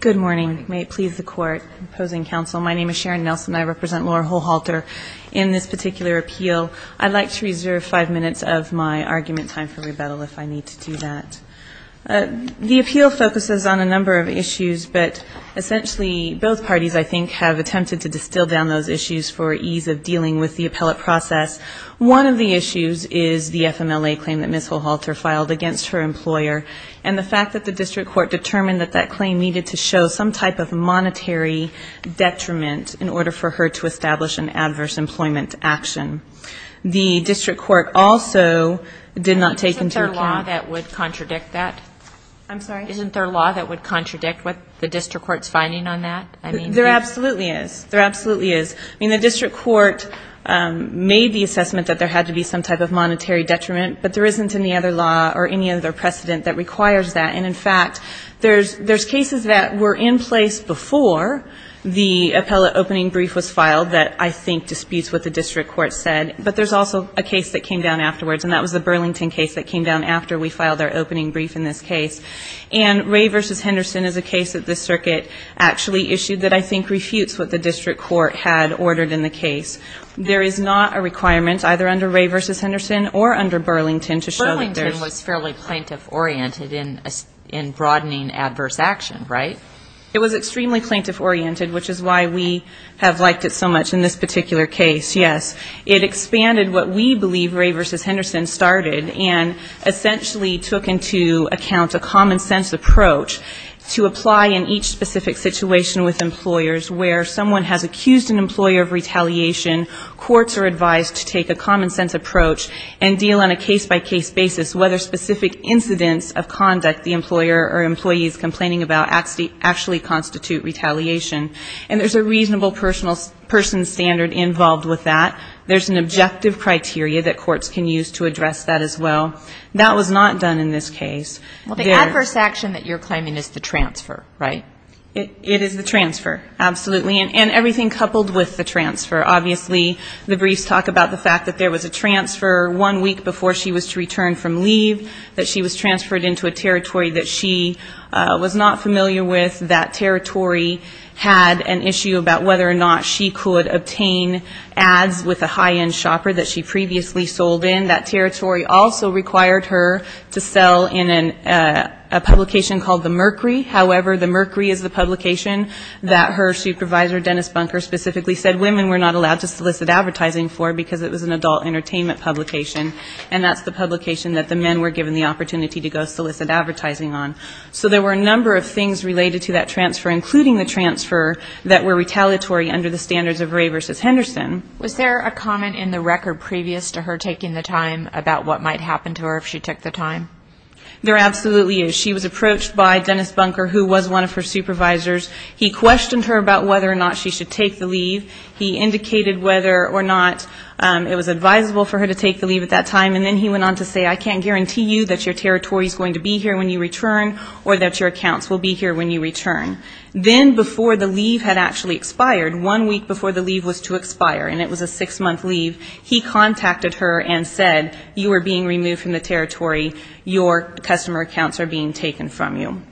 Good morning. May it please the Court. Opposing counsel, my name is Sharon Nelson and I represent Laura Holhalter in this particular appeal. I'd like to reserve five minutes of my argument time for rebuttal if I need to do that. The appeal focuses on a number of issues, but essentially both parties, I think, have attempted to distill down those issues for ease of dealing with the appellate process. One of the issues is the FMLA claim that Ms. Holhalter filed against her employer and the fact that the district court determined that that claim needed to show some type of monetary detriment in order for her to establish an adverse employment action. The district court also did not take into account... Isn't there a law that would contradict that? I'm sorry? Isn't there a law that would contradict what the district court's finding on that? There absolutely is. There absolutely is. I mean, the district court made the assessment that there had to be some type of monetary detriment, but there isn't any other law or any other precedent that requires that. And, in fact, there's cases that were in place before the appellate opening brief was filed that I think disputes what the district court said, but there's also a case that came down afterwards, and that was the Burlington case that came down after we filed our opening brief in this case. And Ray v. Henderson is a case that this circuit actually issued that I think refutes what the district court had ordered in the case. There is not a requirement, either under Ray v. Henderson or under Burlington, to show that there's... Burlington was fairly plaintiff-oriented in broadening adverse action, right? It was extremely plaintiff-oriented, which is why we have liked it so much in this particular case, yes. It expanded what we believe Ray v. Henderson started and essentially took into account a common-sense approach to apply in each specific situation with employers where someone has accused an employer of retaliation, courts are advised to take a common-sense approach and deal on a case-by-case basis whether specific incidents of conduct the employer or employee is complaining about actually constitute retaliation. And there's a reasonable person standard involved with that. There's an objective criteria that courts can use to address that as well. That was not done in this case. Well, the adverse action that you're claiming is the transfer, right? It is the transfer, absolutely. And everything coupled with the transfer. Obviously, the briefs talk about the fact that there was a transfer one week before she was to return from leave, that she was transferred into a territory that she was not familiar with, that territory had an issue about whether or not she could obtain ads with a high-end shopper that she previously sold in. That territory also required her to sell in a publication called The Mercury. However, The Mercury is the publication that her supervisor, Dennis Bunker, specifically said women were not allowed to solicit advertising for because it was an adult entertainment publication. And that's the publication that the men were given the opportunity to go solicit advertising on. So there were a number of things related to that transfer, including the transfer that were retaliatory under the standards of Ray v. Henderson. Was there a comment in the record previous to her taking the time about what might happen to her if she took the time? There absolutely is. She was approached by Dennis Bunker, who was one of her supervisors. He questioned her about whether or not she should take the leave. He indicated whether or not it was advisable for her to take the leave at that time, and then he went on to say I can't guarantee you that your territory is going to be here when you return or that your accounts will be here when you return. Then before the leave had actually expired, one week before the leave was to expire, and it was a six-month leave, he contacted her and said, you are being removed from the territory, your customer accounts are being taken from you.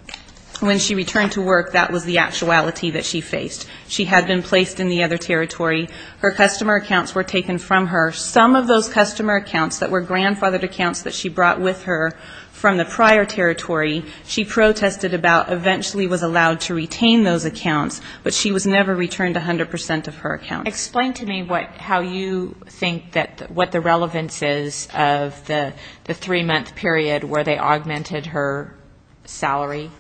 When she returned to work, that was the actuality that she faced. She had been placed in the other territory. Her customer accounts were taken from her. Some of those customer accounts that were grandfathered accounts that she brought with her from the prior territory, she protested about eventually was allowed to retain those accounts, but she was never returned 100% of her accounts. Explain to me how you think that what the relevance is of the three-month period where they augmented her salary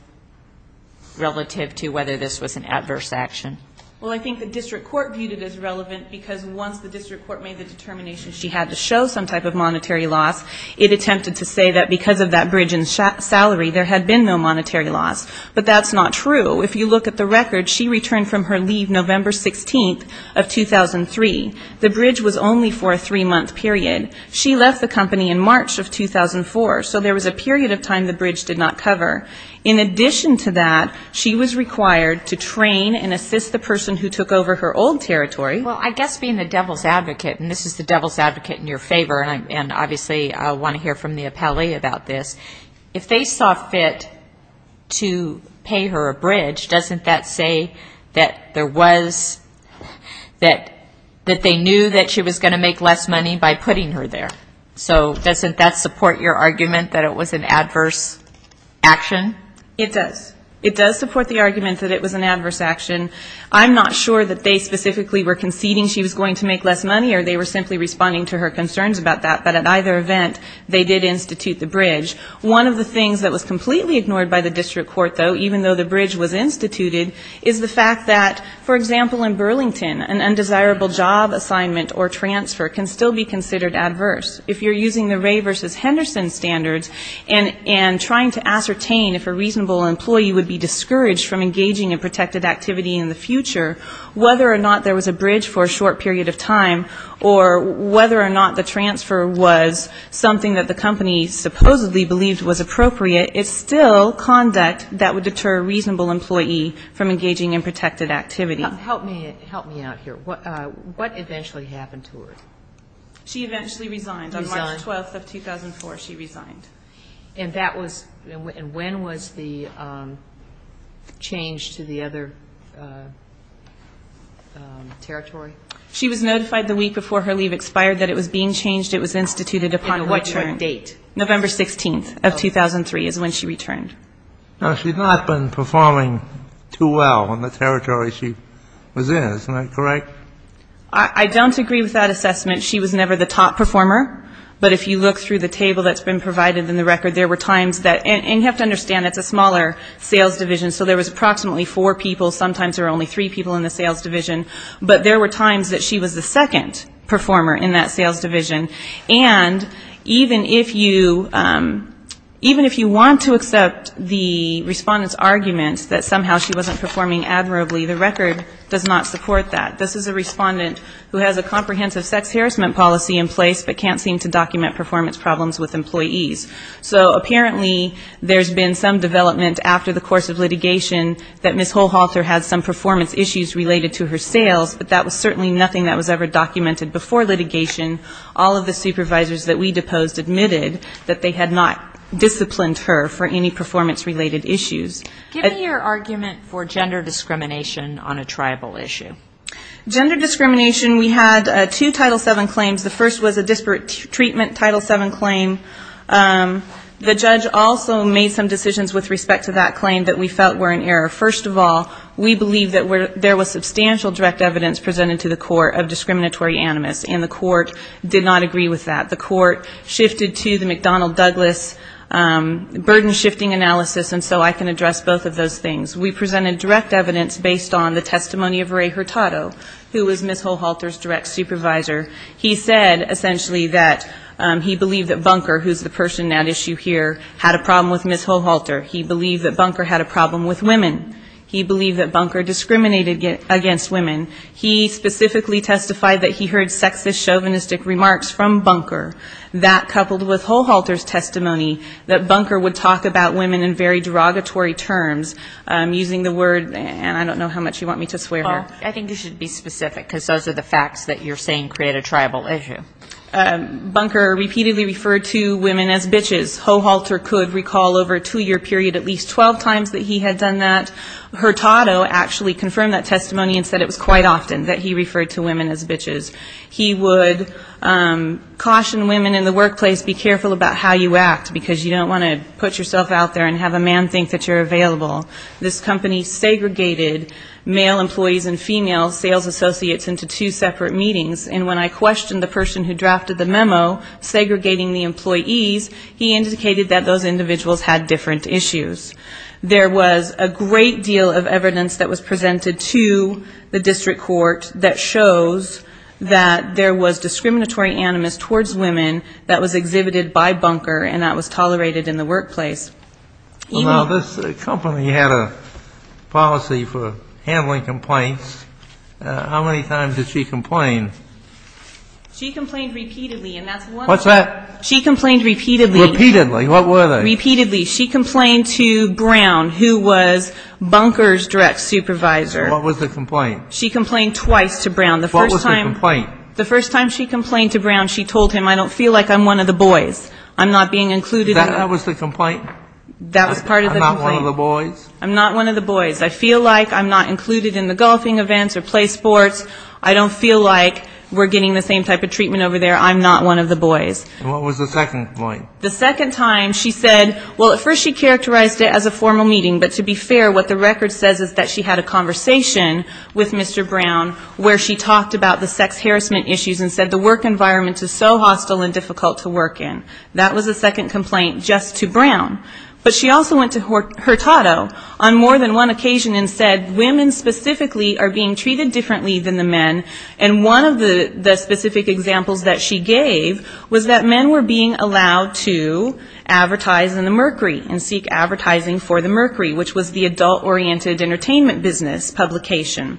relative to whether this was an adverse action. Well, I think the district court viewed it as relevant, because once the district court made the determination she had to show some type of monetary loss, it attempted to say that because of that bridge in salary, there had been no monetary loss. But that's not true. If you look at the record, she returned from her leave November 16th of 2003. The bridge was only for a three-month period. She left the company in March of 2004, so there was a period of time the bridge did not cover. In addition to that, she was required to train and assist the person who took over her old territory. Well, I guess being the devil's advocate, and this is the devil's advocate in your favor, and obviously I want to hear from the appellee about this, if they saw fit to pay her a bridge, doesn't that say that there was, that they knew that she was going to make less money by putting her there? So doesn't that support your argument that it was an adverse action? It does. It does support the argument that it was an adverse action. I'm not sure that they specifically were conceding she was going to make less money or they were simply responding to her concerns about that, but at either event, they did institute the bridge. One of the things that was completely ignored by the district court, though, even though the bridge was instituted, is the fact that, for example, in Burlington, an undesirable job assignment or transfer can still be considered adverse. If you're using the Ray versus Henderson standards and trying to ascertain if a reasonable employee would be discouraged from engaging in protected activity in the future, whether or not there was a bridge for a short period of time or whether or not the transfer was something that the company supposedly believed was appropriate, it's still conduct that would deter a reasonable employee from engaging in protected activity. Help me out here. What eventually happened to her? She eventually resigned. Resigned. On March 12th of 2004, she resigned. And when was the change to the other territory? She was notified the week before her leave expired that it was being changed. It was instituted upon her return. And what date? November 16th of 2003 is when she returned. Now, she's not been performing too well on the territory she was in. Isn't that correct? I don't agree with that assessment. She was never the top performer. But if you look through the table that's been provided in the record, there were times that you have to understand, it's a smaller sales division, so there was approximately four people, sometimes there were only three people in the sales division, but there were times that she was the second performer in that sales division. And even if you want to accept the respondent's argument that somehow she wasn't performing admirably, the record does not support that. This is a respondent who has a comprehensive sex harassment policy in place but can't seem to document performance problems with employees. So apparently there's been some development after the course of litigation that Ms. Holhalter had some performance issues related to her sales, but that was certainly nothing that was ever documented before litigation. All of the supervisors that we deposed admitted that they had not disciplined her for any performance-related issues. Give me your argument for gender discrimination on a tribal issue. Gender discrimination, we had two Title VII claims. The first was a disparate treatment Title VII claim. The judge also made some decisions with respect to that claim that we felt were in error. First of all, we believe that there was substantial direct evidence presented to the court of discriminatory animus, and the court did not agree with that. The court shifted to the McDonnell-Douglas burden-shifting analysis, and so I can address both of those things. We presented direct evidence based on the testimony of Ray Hurtado, who was Ms. Holhalter's direct supervisor. He said, essentially, that he believed that Bunker, who's the person at issue here, had a problem with Ms. Holhalter. He believed that Bunker had a problem with women. He believed that Bunker discriminated against women. He specifically testified that he heard sexist, chauvinistic remarks from Bunker. That, coupled with Holhalter's testimony, that Bunker would talk about women in very derogatory terms, using the word, and I don't know how much you want me to swear here. I think you should be specific, because those are the facts that you're saying create a tribal issue. Bunker repeatedly referred to women as bitches. Holhalter could recall over a two-year period at least 12 times that he had done that. Hurtado actually confirmed that testimony and said it was quite often that he referred to women as bitches. He would caution women in the workplace, be careful about how you act, because you don't want to put yourself out there and have a man think that you're available. This company segregated male employees and female sales associates into two separate meetings. And when I questioned the person who drafted the memo segregating the employees, he indicated that those individuals had different issues. There was a great deal of evidence that was presented to the district court that shows that there was discriminatory animus towards women that was exhibited by Bunker and that was tolerated in the workplace. This company had a policy for handling complaints. How many times did she complain? She complained repeatedly. What's that? She complained repeatedly. Repeatedly. What were they? Repeatedly. She complained to Brown, who was Bunker's direct supervisor. What was the complaint? She complained twice to Brown. What was the complaint? The first time she complained to Brown, she told him, I don't feel like I'm one of the boys. I'm not being included. That was the complaint? That was part of the complaint. I'm not one of the boys? I'm not one of the boys. I feel like I'm not included in the golfing events or play sports. I don't feel like we're getting the same type of treatment over there. I'm not one of the boys. What was the second complaint? The second time she said, well, at first she characterized it as a formal meeting, but to be fair, what the record says is that she had a conversation with Mr. Brown, where she talked about the sex harassment issues and said the work environment is so hostile and difficult to work in. That was the second complaint just to Brown. But she also went to Hurtado on more than one occasion and said, women specifically are being treated differently than the men, and one of the specific examples that she gave was that men were being allowed to advertise in the Mercury and seek advertising for the Mercury, which was the adult-oriented entertainment business publication.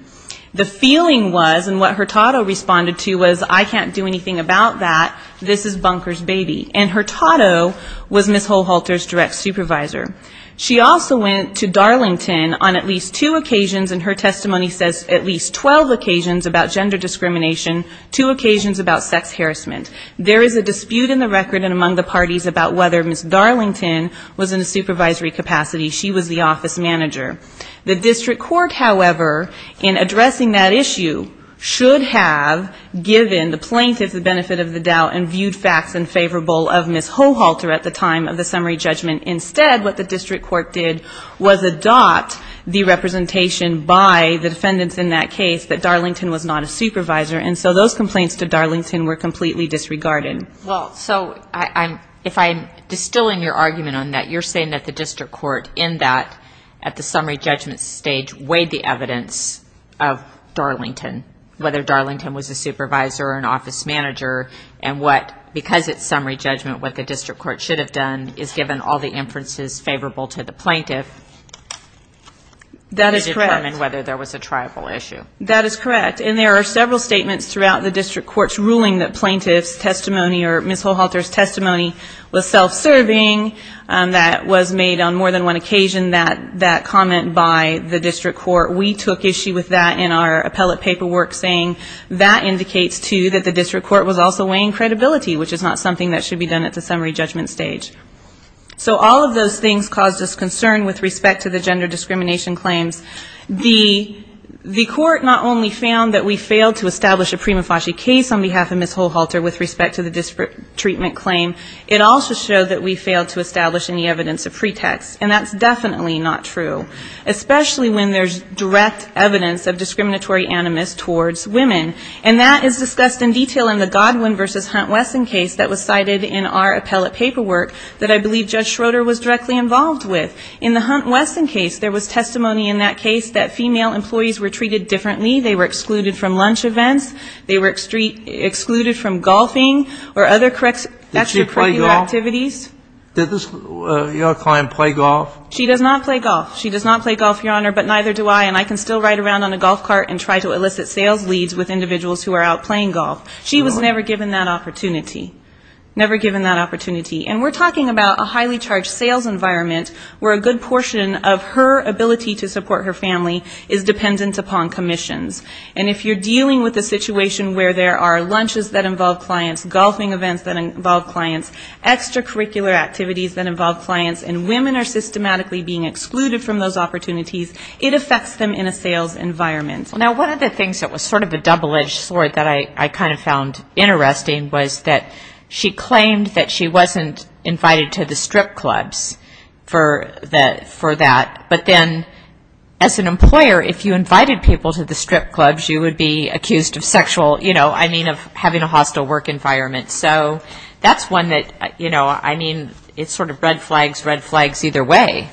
The feeling was, and what Hurtado responded to was, I can't do anything about that. This is Bunker's baby. And Hurtado was Ms. Holhalter's direct supervisor. She also went to Darlington on at least two occasions, and her testimony says at least 12 occasions about gender discrimination, two occasions about sex harassment. There is a dispute in the record and among the parties about whether Ms. Darlington was in a supervisory capacity. She was the office manager. The district court, however, in addressing that issue, should have given the plaintiff the benefit of the doubt and viewed facts unfavorable of Ms. Holhalter at the time of the summary judgment. Instead, what the district court did was adopt the representation by the defendants in that case that Darlington was not a supervisor, and so those complaints to Darlington were completely disregarded. Well, so if I'm distilling your argument on that, you're saying that the district court in that, at the summary judgment stage, weighed the evidence of Darlington, whether Darlington was a supervisor or an office manager, and what, because it's summary judgment, what the district court should have done is given all the inferences favorable to the plaintiff to determine whether there was a tribal issue. That is correct, and there are several statements throughout the district court's ruling that plaintiff's testimony or Ms. Holhalter's testimony was self-serving. That was made on more than one occasion, that comment by the district court. We took issue with that in our appellate paperwork, saying that indicates, too, that the district court was also weighing credibility, which is not something that should be done at the summary judgment stage. So all of those things caused us concern with respect to the gender discrimination claims. The court not only found that we failed to establish a prima facie case on behalf of Ms. Holhalter with respect to the treatment claim, it also showed that we failed to establish any evidence of pretext, and that's definitely not true, especially when there's direct evidence of discriminatory animus towards women. And that is discussed in detail in the Godwin v. Hunt-Wesson case that was cited in our appellate paperwork that I believe Judge Schroeder was directly involved with. In the Hunt-Wesson case, there was testimony in that case that female employees were treated differently. They were excluded from lunch events. They were excluded from golfing or other extracurricular activities. Did she play golf? Did your client play golf? She does not play golf. She does not play golf, Your Honor, but neither do I, and I can still ride around on a golf cart and try to elicit sales leads with individuals who are out playing golf. She was never given that opportunity. And we're talking about a highly charged sales environment where a good portion of her ability to support her family is dependent upon commissions. And if you're dealing with a situation where there are lunches that involve clients, golfing events that involve clients, extracurricular activities that involve clients, and women are systematically being excluded from those opportunities, it affects them in a sales environment. Now, one of the things that was sort of a double-edged sword that I kind of found interesting was that she claimed that she wasn't invited to the strip clubs for that. But then as an employer, if you invited people to the strip clubs, you would be accused of sexual, you know, I mean of having a hostile work environment. So that's one that, you know, I mean, it's sort of red flags, red flags either way.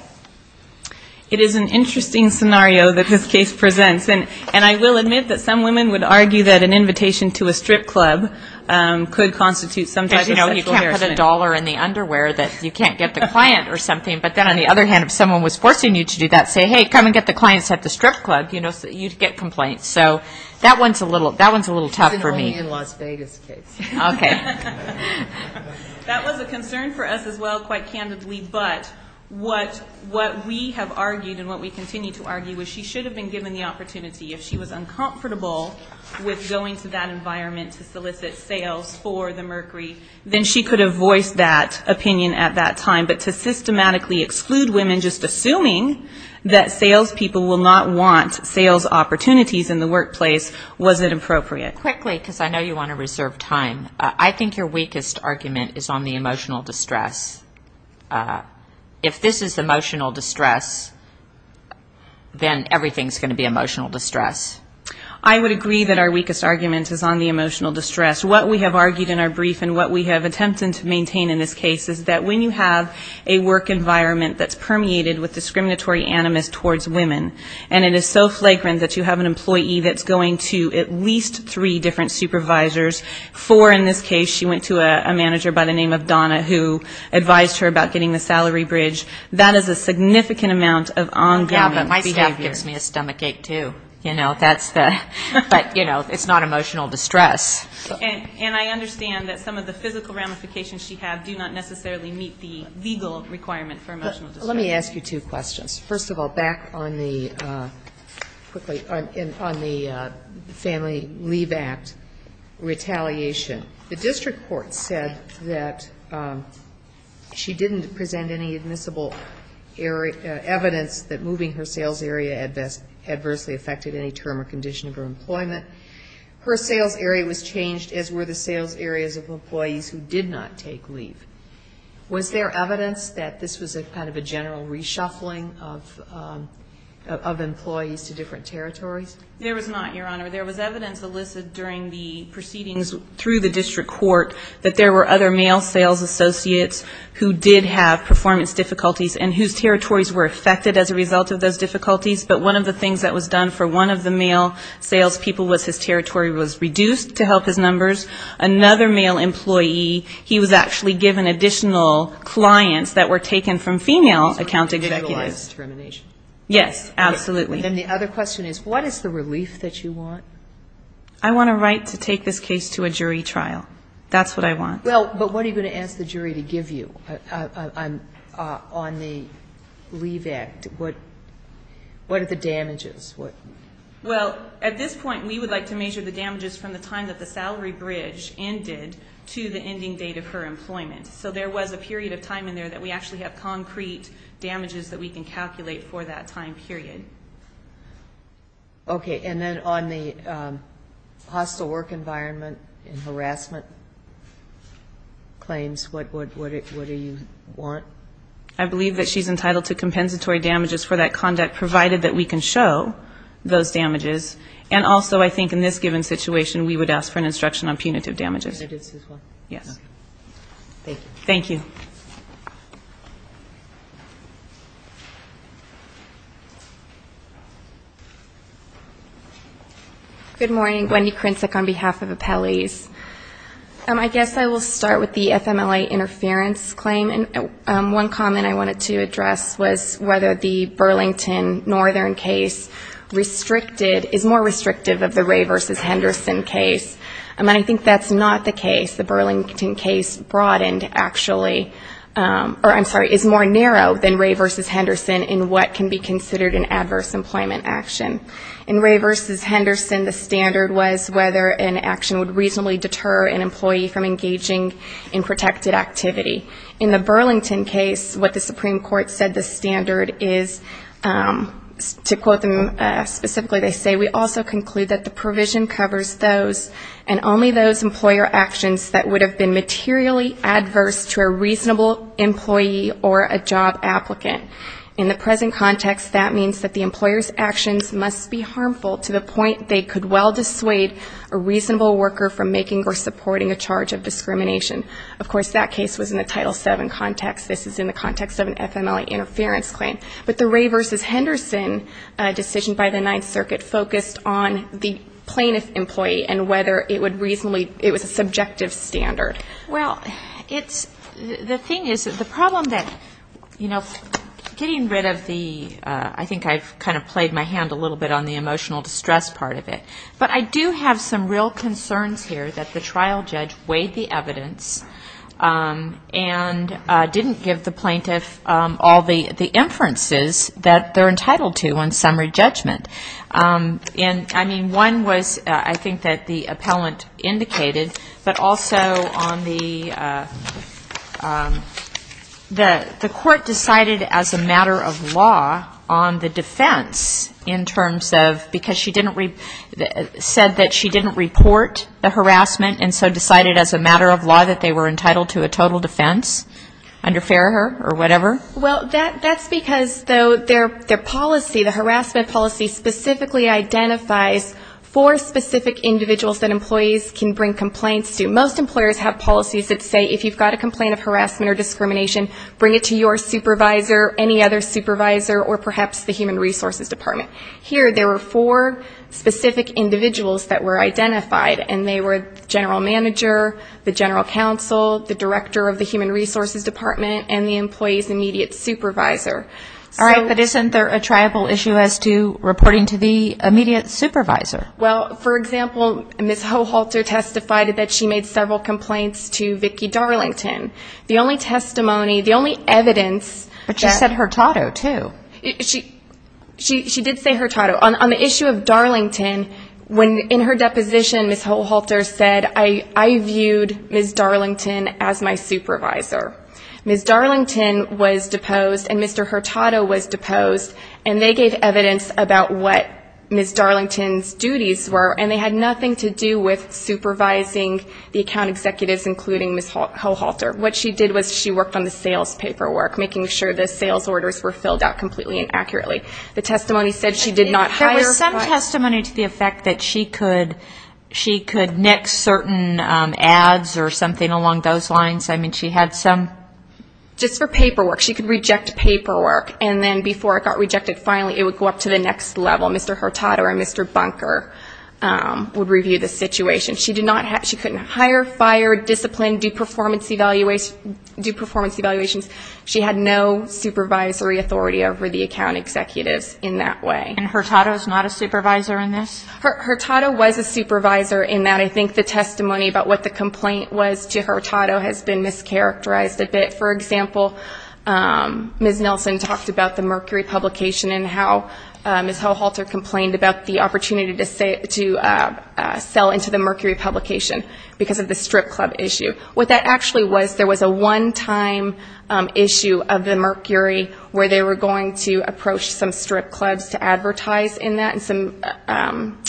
It is an interesting scenario that this case presents. And I will admit that some women would argue that an invitation to a strip club could constitute some type of sexual harassment. Because, you know, you can't put a dollar in the underwear that you can't get the client or something. But then on the other hand, if someone was forcing you to do that, say, hey, come and get the clients at the strip club, you'd get complaints. So that one's a little tough for me. That was a concern for us as well, quite candidly. But what we have argued and what we continue to argue is she should have been given the opportunity. If she was uncomfortable with going to that environment to solicit sales for the Mercury, then she could have voiced that opinion at that time. But to systematically exclude women just assuming that sales people will not want sales opportunities in the workplace, was it appropriate? Quickly, because I know you want to reserve time. I think your weakest argument is on the emotional distress. If this is emotional distress, then everything's going to be emotional distress. I would agree that our weakest argument is on the emotional distress. What we have argued in our brief and what we have attempted to maintain in this case is that when you have a work environment that's permeated with discriminatory animus towards women, and it is so flagrant that you have an employee that's going to at least three different supervisors, four in this case, she went to a manager by the name of Donna who advised her about getting the salary bridge, that is a significant amount of ongoing behavior. But, you know, it's not emotional distress. And I understand that some of the physical ramifications she had do not necessarily meet the legal requirement for emotional distress. Let me ask you two questions. First of all, back on the family leave act retaliation. The district court said that she didn't present any admissible evidence that moving her sales area adversely affected any term or condition of her employment. Her sales area was changed, as were the sales areas of employees who did not take leave. Was there evidence that this was a kind of a general reshuffling of employees to different territories? There was not, Your Honor. There was evidence elicited during the proceedings through the district court that there were other male sales associates who did have performance difficulties and whose territories were affected as a result of those difficulties. But one of the things that was done for one of the male salespeople was his territory was reduced to help his numbers. Another male employee, he was actually given additional clients that were taken from female account executives. And the other question is, what is the relief that you want? I want a right to take this case to a jury trial. That's what I want. Well, but what are you going to ask the jury to give you on the leave act? What are the damages? Well, at this point, we would like to measure the damages from the time that the salary bridge ended to the ending date of her employment. So there was a period of time in there that we actually have concrete damages that we can calculate for that time period. Okay. And then on the hostile work environment and harassment claims, what do you want? I believe that she's entitled to compensatory damages for that conduct, provided that we can show those damages. And also, I think in this given situation, we would ask for an instruction on punitive damages. Thank you. Good morning. Wendy Krincic on behalf of appellees. I guess I will start with the FMLA interference claim. And one comment I wanted to address was whether the Burlington Northern case is more restrictive of the Ray v. Henderson case. And I think that's not the case. The Burlington case broadened, actually, or I'm sorry, is more narrow than Ray v. Henderson in what can be considered an adverse employment action. In Ray v. Henderson, the standard was whether an action would reasonably deter an employee from engaging in protected activity. In the Burlington case, what the Supreme Court said the standard is, to quote them specifically, they say, we also conclude that the provision covers those and only those employer actions that would have been materially adverse to a reasonable employee or a job applicant. In the present context, that means that the employer's actions must be harmful to the point they could well dissuade a reasonable worker from making or supporting a charge of discrimination. Of course, that case was in the Title VII context. This is in the context of an FMLA interference claim. But the Ray v. Henderson decision by the Ninth Circuit focused on the plaintiff employee and whether it would reasonably, it was a subjective standard. Well, it's, the thing is, the problem that, you know, getting rid of the, I think I've kind of played my hand a little bit on the emotional distress part of it. But I do have some real concerns here that the trial judge weighed the evidence and didn't give the plaintiff all the inferences that they're entitled to on summary judgment. And, I mean, one was, I think, that the appellant indicated, but also on the, the court decided as a matter of law on the defense in terms of, because she didn't, said that she didn't report the harassment and so decided as a matter of law that they were entitled to a total defense under Farraher or whatever. Well, that's because, though, their policy, the harassment policy specifically identifies four specific individuals that employees can bring complaints to. Most employers have policies that say if you've got a complaint of harassment or discrimination, bring it to your supervisor, any other supervisor, or perhaps the Human Resources Department. Here there were four specific individuals that were identified. And they were the general manager, the general counsel, the director of the Human Resources Department, and the employee's immediate supervisor. All right, but isn't there a tribal issue as to reporting to the immediate supervisor? Well, for example, Ms. Hohalter testified that she made several complaints to Vicki Darlington. The only testimony, the only evidence that -. But she said Hurtado, too. She did say Hurtado. On the issue of Darlington, in her deposition, Ms. Hohalter said, I viewed Ms. Darlington as my supervisor. Ms. Darlington was deposed and Mr. Hurtado was deposed, and they gave evidence about what Ms. Darlington's duties were, and they had nothing to do with supervising the account executives, including Ms. Hohalter. What she did was she worked on the sales paperwork, making sure the sales orders were filled out completely and accurately. The testimony said she did not hire. There was some testimony to the effect that she could neck certain ads or something along those lines. I mean, she had some. Just for paperwork. She could reject paperwork, and then before it got rejected, finally it would go up to the next level. Mr. Hurtado or Mr. Bunker would review the situation. She couldn't hire, fire, discipline, do performance evaluations. She had no supervisory authority over the account executives in that way. And Hurtado is not a supervisor in this? Hurtado was a supervisor in that. I think the testimony about what the complaint was to Hurtado has been mischaracterized a bit. For example, Ms. Nelson talked about the Mercury publication and how Ms. Hohalter complained about the opportunity to sell into the Mercury publication because of the strip club issue. What that actually was, there was a one-time issue of the Mercury where they were going to approach some strip clubs to advertise in that, and some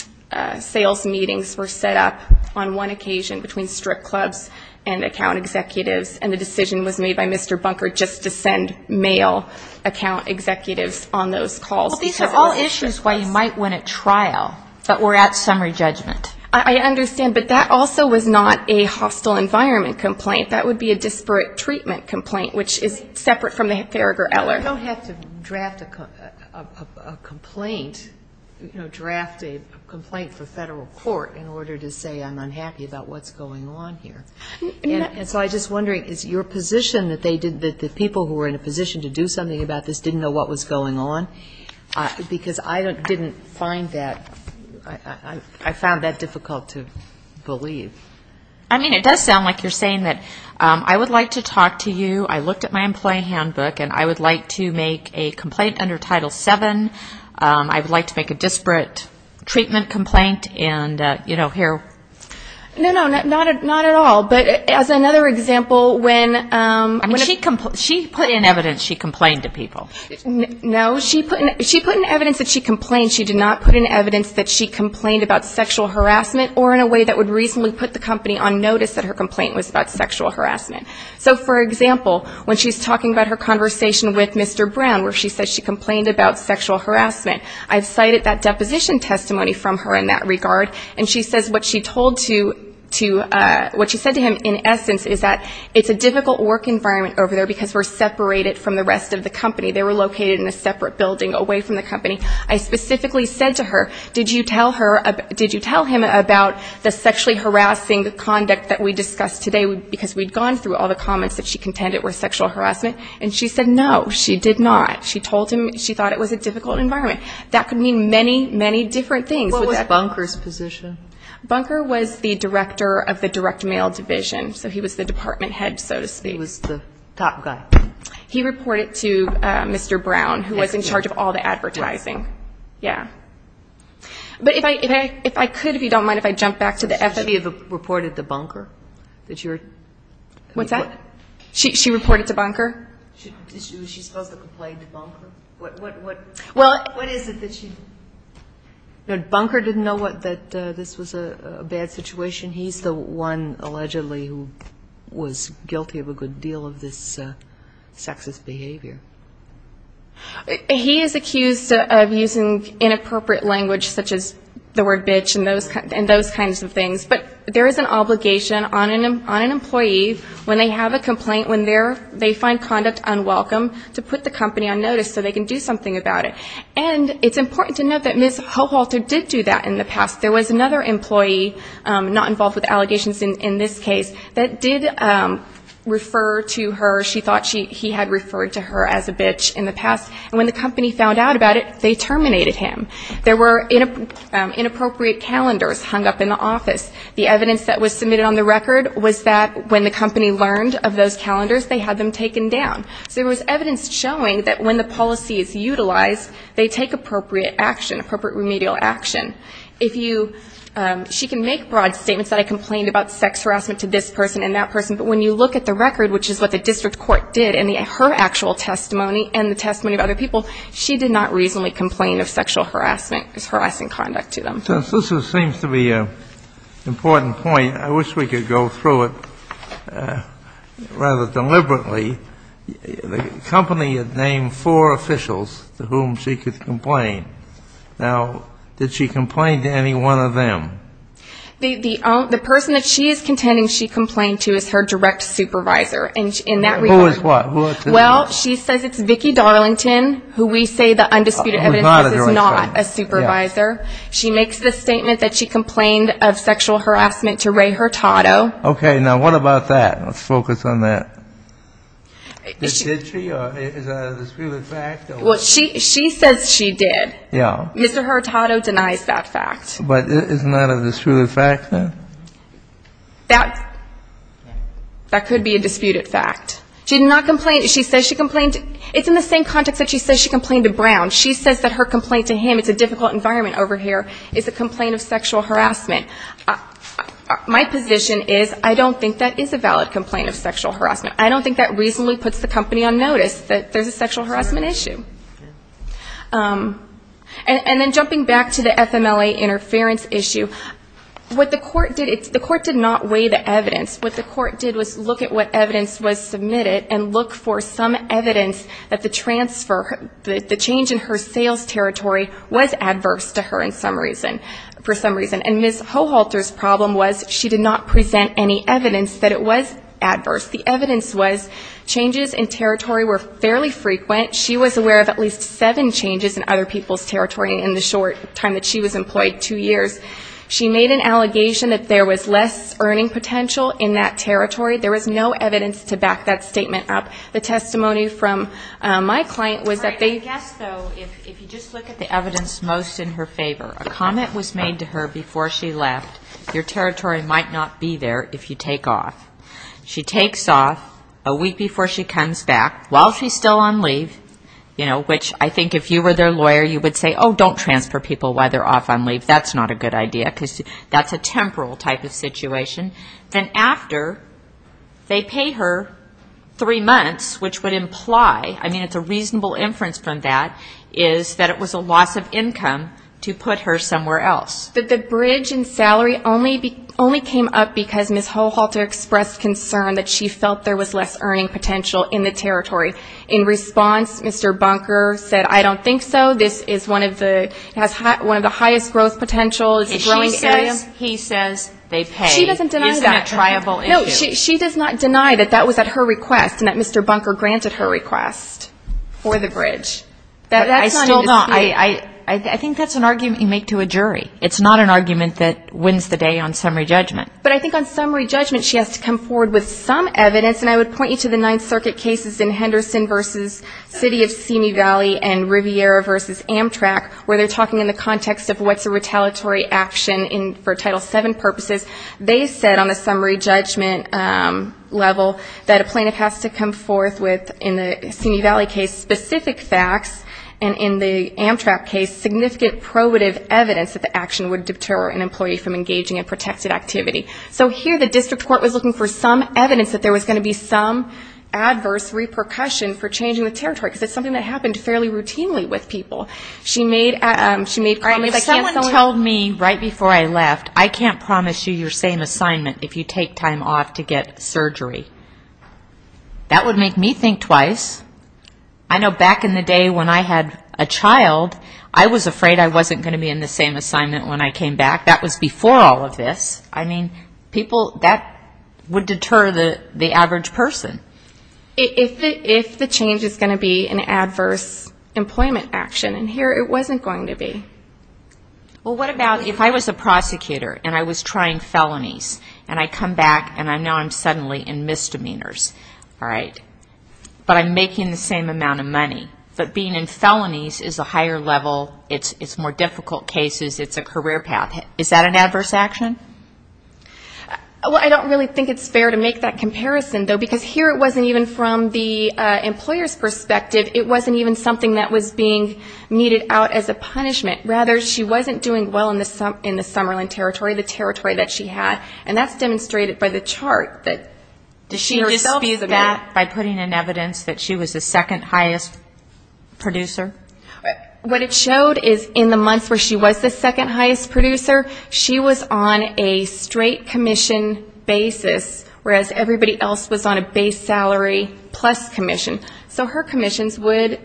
sales meetings were set up on one occasion between strip clubs and account executives, and the decision was made by Mr. Hurtado. It wasn't by Mr. Bunker just to send mail account executives on those calls. But these are all issues why you might win a trial, but we're at summary judgment. I understand. But that also was not a hostile environment complaint. That would be a disparate treatment complaint, which is separate from the Farragher-Eller. You don't have to draft a complaint, you know, draft a complaint for federal court in order to say I'm unhappy about what's going on here. And so I'm just wondering, is your position that the people who were in a position to do something about this didn't know what was going on? Because I didn't find that, I found that difficult to believe. I mean, it does sound like you're saying that I would like to talk to you, I looked at my employee handbook, and I would like to make a complaint under Title VII, I would like to make a disparate treatment complaint, and, you know, here. No, no, not at all. But as another example, when she put in evidence she complained to people. No, she put in evidence that she complained, she did not put in evidence that she complained about sexual harassment or in a way that would reasonably put the company on notice that her complaint was about sexual harassment. So, for example, when she's talking about her conversation with Mr. Brown, where she said she complained about sexual harassment, I've cited that deposition testimony from her in that regard, and she says what she talked about was sexual harassment. What she said to him in essence is that it's a difficult work environment over there because we're separated from the rest of the company, they were located in a separate building away from the company. I specifically said to her, did you tell him about the sexually harassing conduct that we discussed today, because we'd gone through all the comments that she contended were sexual harassment, and she said no, she did not. She told him she thought it was a difficult environment. That could mean many, many different things. What was Bunker's position? Bunker was the director of the direct mail division, so he was the department head, so to speak. He was the top guy. He reported to Mr. Brown, who was in charge of all the advertising. But if I could, if you don't mind, if I jump back to the effort. Have you reported to Bunker? She reported to Bunker? Was she supposed to complain to Bunker? Bunker didn't know that this was a bad situation. He's the one allegedly who was guilty of a good deal of this sexist behavior. He is accused of using inappropriate language, such as the word bitch and those kinds of things. But there is an obligation on an employee when they have a complaint, when they find conduct unwelcome, to put the company on notice so they can do something about it. And it's important to note that Ms. Hohalter did do that in the past. There was another employee not involved with allegations in this case that did refer to her. She thought he had referred to her as a bitch in the past, and when the company found out about it, they terminated him. There were inappropriate calendars hung up in the office. The evidence that was submitted on the record was that when the company learned of those calendars, they had them taken down. So there was evidence showing that when the policy is utilized, they take appropriate action, appropriate remedial action. She can make broad statements that I complained about sex harassment to this person and that person, but when you look at the record, which is what the district court did, and her actual testimony and the testimony of other people, she did not reasonably complain of sexual harassment as harassing conduct to them. Since this seems to be an important point, I wish we could go through it rather deliberately. The company had named four officials to whom she could complain. Now, did she complain to any one of them? The person that she is contending she complained to is her direct supervisor in that regard. Who is what? Well, she says it's Vicki Darlington, who we say the undisputed evidence is not a supervisor. She makes the statement that she complained of sexual harassment to Ray Hurtado. Okay. Now, what about that? Let's focus on that. Did she, or is that a disputed fact? Well, she says she did. Yeah. Mr. Hurtado denies that fact. But isn't that a disputed fact, then? That could be a disputed fact. She did not complain. She says she complained. It's in the same context that she says she complained to Brown. She says that her complaint to him, it's a difficult environment over here, is a complaint of sexual harassment. My position is I don't think that is a valid complaint of sexual harassment. I don't think that reasonably puts the company on notice that there's a sexual harassment issue. And then jumping back to the FMLA interference issue, what the court did, the court did not weigh the evidence. What the court did was look at what evidence was submitted and look for some evidence that the transfer, the change in her sales territory was adverse to her in some reason, for some reason. And Ms. Hohalter's problem was she did not present any evidence that it was adverse. The evidence was changes in territory were fairly frequent. She was aware of at least seven changes in other people's territory in the short time that she was employed, two years. She made an allegation that there was less earning potential in that territory. There was no evidence to back that statement up. The testimony from my client was that they ---- I guess, though, if you just look at the evidence most in her favor, a comment was made to her before she left, your territory might not be there if you take off. She takes off a week before she comes back while she's still on leave, you know, which I think if you were their lawyer, you would say, oh, don't transfer people while they're off on leave. That's not a good idea because that's a temporal type of situation. Then after they pay her three months, which would imply, I mean, it's a reasonable inference from that, is that it was a loss of income to put her somewhere else. But the bridge in salary only came up because Ms. Hohalter expressed concern that she felt there was less earning potential in the territory. In response, Mr. Bunker said, I don't think so. This is one of the highest growth potentials. If she says, he says, they pay. She doesn't deny that. Isn't that a triable issue? No. She does not deny that that was at her request and that Mr. Bunker granted her request for the bridge. That's not a dispute. I still don't. I think that's an argument you make to a jury. It's not an argument that wins the day on summary judgment. But I think on summary judgment, she has to come forward with some evidence, and I would point you to the Ninth Circuit cases in Henderson v. City of Simi Valley and Riviera v. Amtrak where they're talking in the context of what's a retaliatory action for Title VII purposes. They said on the summary judgment level that a plaintiff has to come forth with, in the Simi Valley case, specific facts, and in the Amtrak case, significant probative evidence that the action would deter an employee from engaging in protected activity. So here the district court was looking for some evidence that there was going to be some adverse repercussion for changing the territory, because it's something that happened fairly routinely with people. If someone told me right before I left, I can't promise you your same assignment if you take time off to get surgery, that would make me think twice. I know back in the day when I had a child, I was afraid I wasn't going to be in the same assignment when I came back. That was before all of this. I mean, people, that would deter the average person. If the change is going to be an adverse employment action, and here it wasn't going to be. Well, what about if I was a prosecutor and I was trying felonies, and I come back and I know I'm suddenly in misdemeanors, all right, but I'm making the same amount of money, but being in felonies is a higher level, it's more difficult cases, it's a career path. Is that an adverse action? Well, I don't really think it's fair to make that comparison, though, because here it wasn't even from the employer's perspective. It wasn't even something that was being meted out as a punishment. Rather, she wasn't doing well in the Summerlin territory, the territory that she had. And that's demonstrated by the chart that she herself is that. Did she disprove that by putting in evidence that she was the second highest producer? What it showed is in the months where she was the second highest producer, she was on a straight commission basis, whereas everybody else was on a base salary plus commission. So her commissions would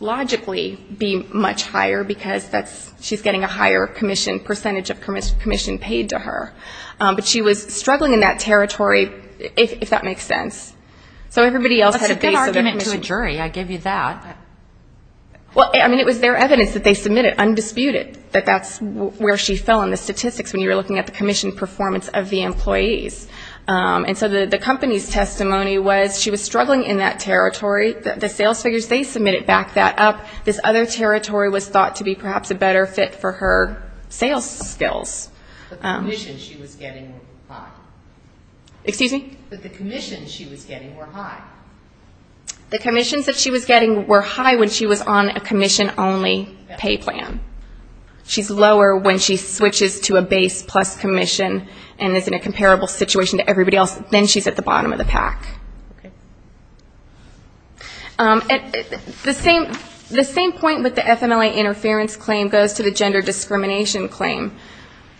logically be much higher because she's getting a higher commission, percentage of commission paid to her. But she was struggling in that territory, if that makes sense. So everybody else had a base of commission. That's a good argument to a jury, I give you that. Well, I mean, it was their evidence that they submitted, undisputed, that that's where she fell in the statistics when you were looking at the commission performance of the employees. And so the company's testimony was she was struggling in that territory. The sales figures, they submitted back that up. This other territory was thought to be perhaps a better fit for her sales skills. The commissions she was getting were high. Excuse me? The commissions she was getting were high. The commissions that she was getting were high when she was on a commission-only pay plan. She's lower when she switches to a base plus commission and is in a comparable situation to everybody else, then she's at the bottom of the pack. The same point with the FMLA interference claim goes to the gender discrimination claim.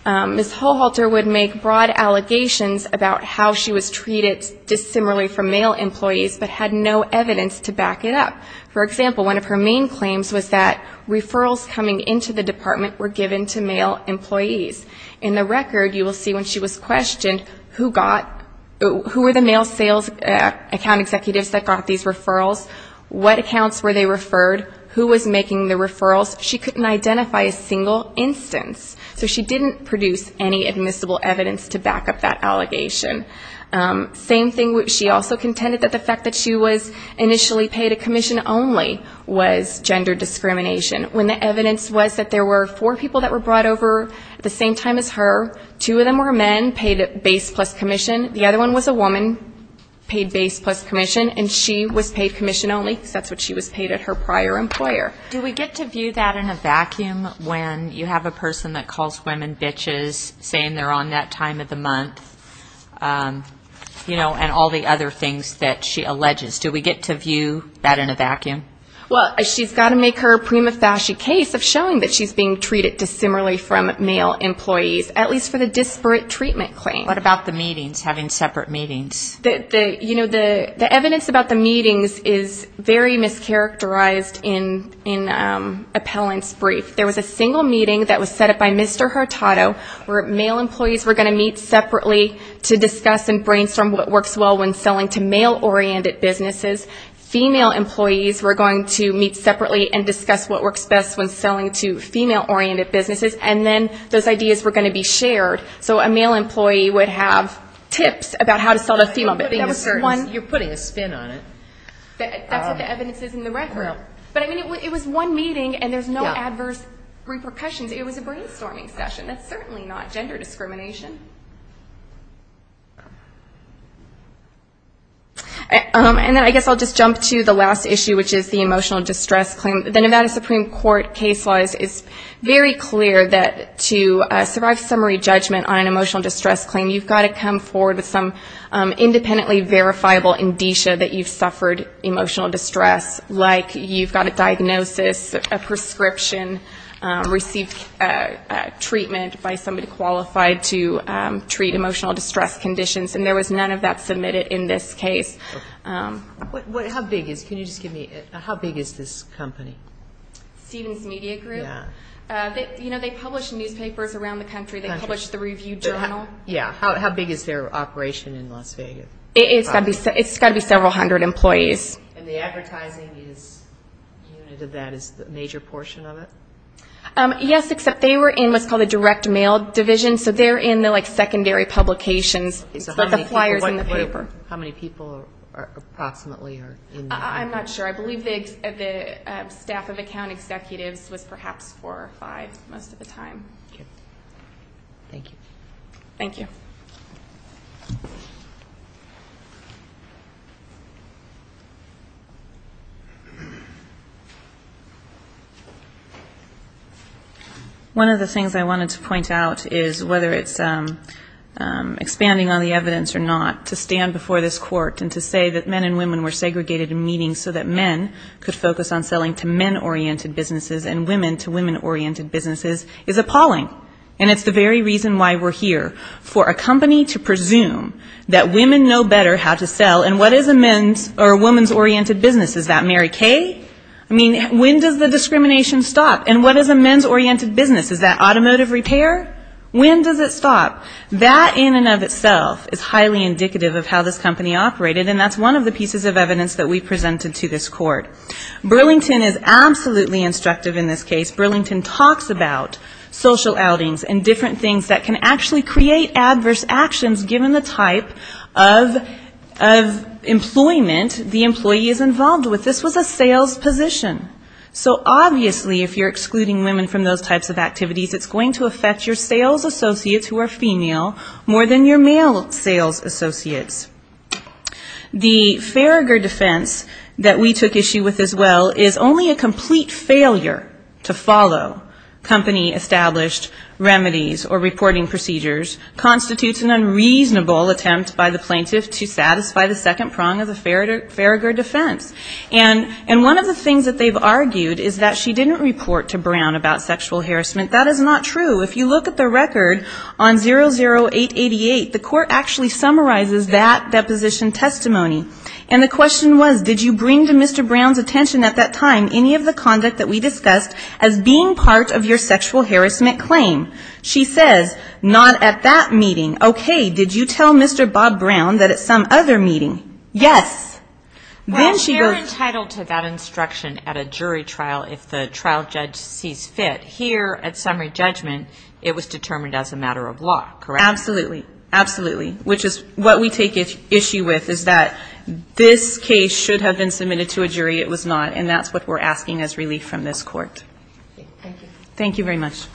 Ms. Holhalter would make broad allegations about how she was treated dissimilarly from male employees but had no evidence to back it up. For example, one of her main claims was that referrals coming into the department were given to male employees. In the record, you will see when she was questioned who were the male sales account executives that got these referrals, what accounts were they referred, who was making the referrals, she couldn't identify a single instance. So she didn't produce any admissible evidence to back up that allegation. Same thing, she also contended that the fact that she was initially paid a commission only was gender discrimination. When the evidence was that there were four people that were brought over at the same time as her, two of them were men paid base plus commission, the other one was a woman paid base plus commission, and she was paid commission only because that's what she was paid at her prior employer. Do we get to view that in a vacuum when you have a person that calls women bitches, saying they're on that time of the month, you know, and all the other things that she alleges? Do we get to view that in a vacuum? Well, she's got to make her prima facie case of showing that she's being treated dissimilarly from male employees, at least for the disparate treatment claim. What about the meetings, having separate meetings? You know, the evidence about the meetings is very mischaracterized in appellant's brief. There was a single meeting that was set up by Mr. Hurtado where male employees were going to meet separately to discuss and brainstorm what works well when selling to male-oriented businesses. Female employees were going to meet separately and discuss what works best when selling to female-oriented businesses, and then those ideas were going to be shared. So a male employee would have tips about how to sell to female businesses. You're putting a spin on it. That's what the evidence is in the record. But, I mean, it was one meeting, and there's no adverse repercussions. It was a brainstorming session. That's certainly not gender discrimination. And then I guess I'll just jump to the last issue, which is the emotional distress claim. The Nevada Supreme Court case law is very clear that to survive summary judgment on an emotional distress claim, you've got to come forward with some independently verifiable indicia that you've suffered emotional distress, like you've got a diagnosis, a prescription, received treatment by somebody qualified to treat emotional distress conditions, and there was none of that submitted in this case. How big is this company? Stevens Media Group. They publish newspapers around the country. They publish the Review Journal. Yeah. How big is their operation in Las Vegas? It's got to be several hundred employees. And the advertising unit of that is a major portion of it? Yes, except they were in what's called a direct mail division, so they're in the, like, secondary publications. How many people approximately are in that? I'm not sure. I believe the staff of account executives was perhaps four or five most of the time. Thank you. One of the things I wanted to point out is whether it's expanding on the evidence or not, to stand before this court and to say that men and women were segregated in meetings so that men could focus on selling to men-oriented businesses and women to women-oriented businesses is appalling. And it's the very reason why we're here, for a company to presume that women know better how to sell, and what is a men's oriented business? Is that Mary Kay? I mean, when does the discrimination stop? And what is a men's oriented business? Is that automotive repair? When does it stop? That in and of itself is highly indicative of how this company operated, and that's one of the pieces of evidence that we presented to this court. Burlington is absolutely instructive in this case. Burlington talks about social outings and different things that can actually create adverse actions, given the type of employment that an employee is involved with. This was a sales position. So obviously if you're excluding women from those types of activities, it's going to affect your sales associates who are female, more than your male sales associates. The Farragher defense that we took issue with as well is only a complete failure to follow company-established remedies or reporting procedures, constitutes an unreasonable attempt by the plaintiff to satisfy the second prong of the Farragher defense. And one of the things that they've argued is that she didn't report to Brown about sexual harassment. That is not true. If you look at the record on 00888, the court actually summarizes that deposition testimony. And the question was, did you bring to Mr. Brown's attention at that time any of the conduct that we discussed as being part of your sexual harassment claim? She says, not at that meeting. Okay. Did you tell Mr. Bob Brown that at some other meeting? Yes. Well, they're entitled to that instruction at a jury trial if the trial judge sees fit. Here, at summary judgment, it was determined as a matter of law, correct? Absolutely. Absolutely. Which is what we take issue with is that this case should have been submitted to a jury. It was not. And that's what we're asking as relief from this court. Thank you. Thank you very much.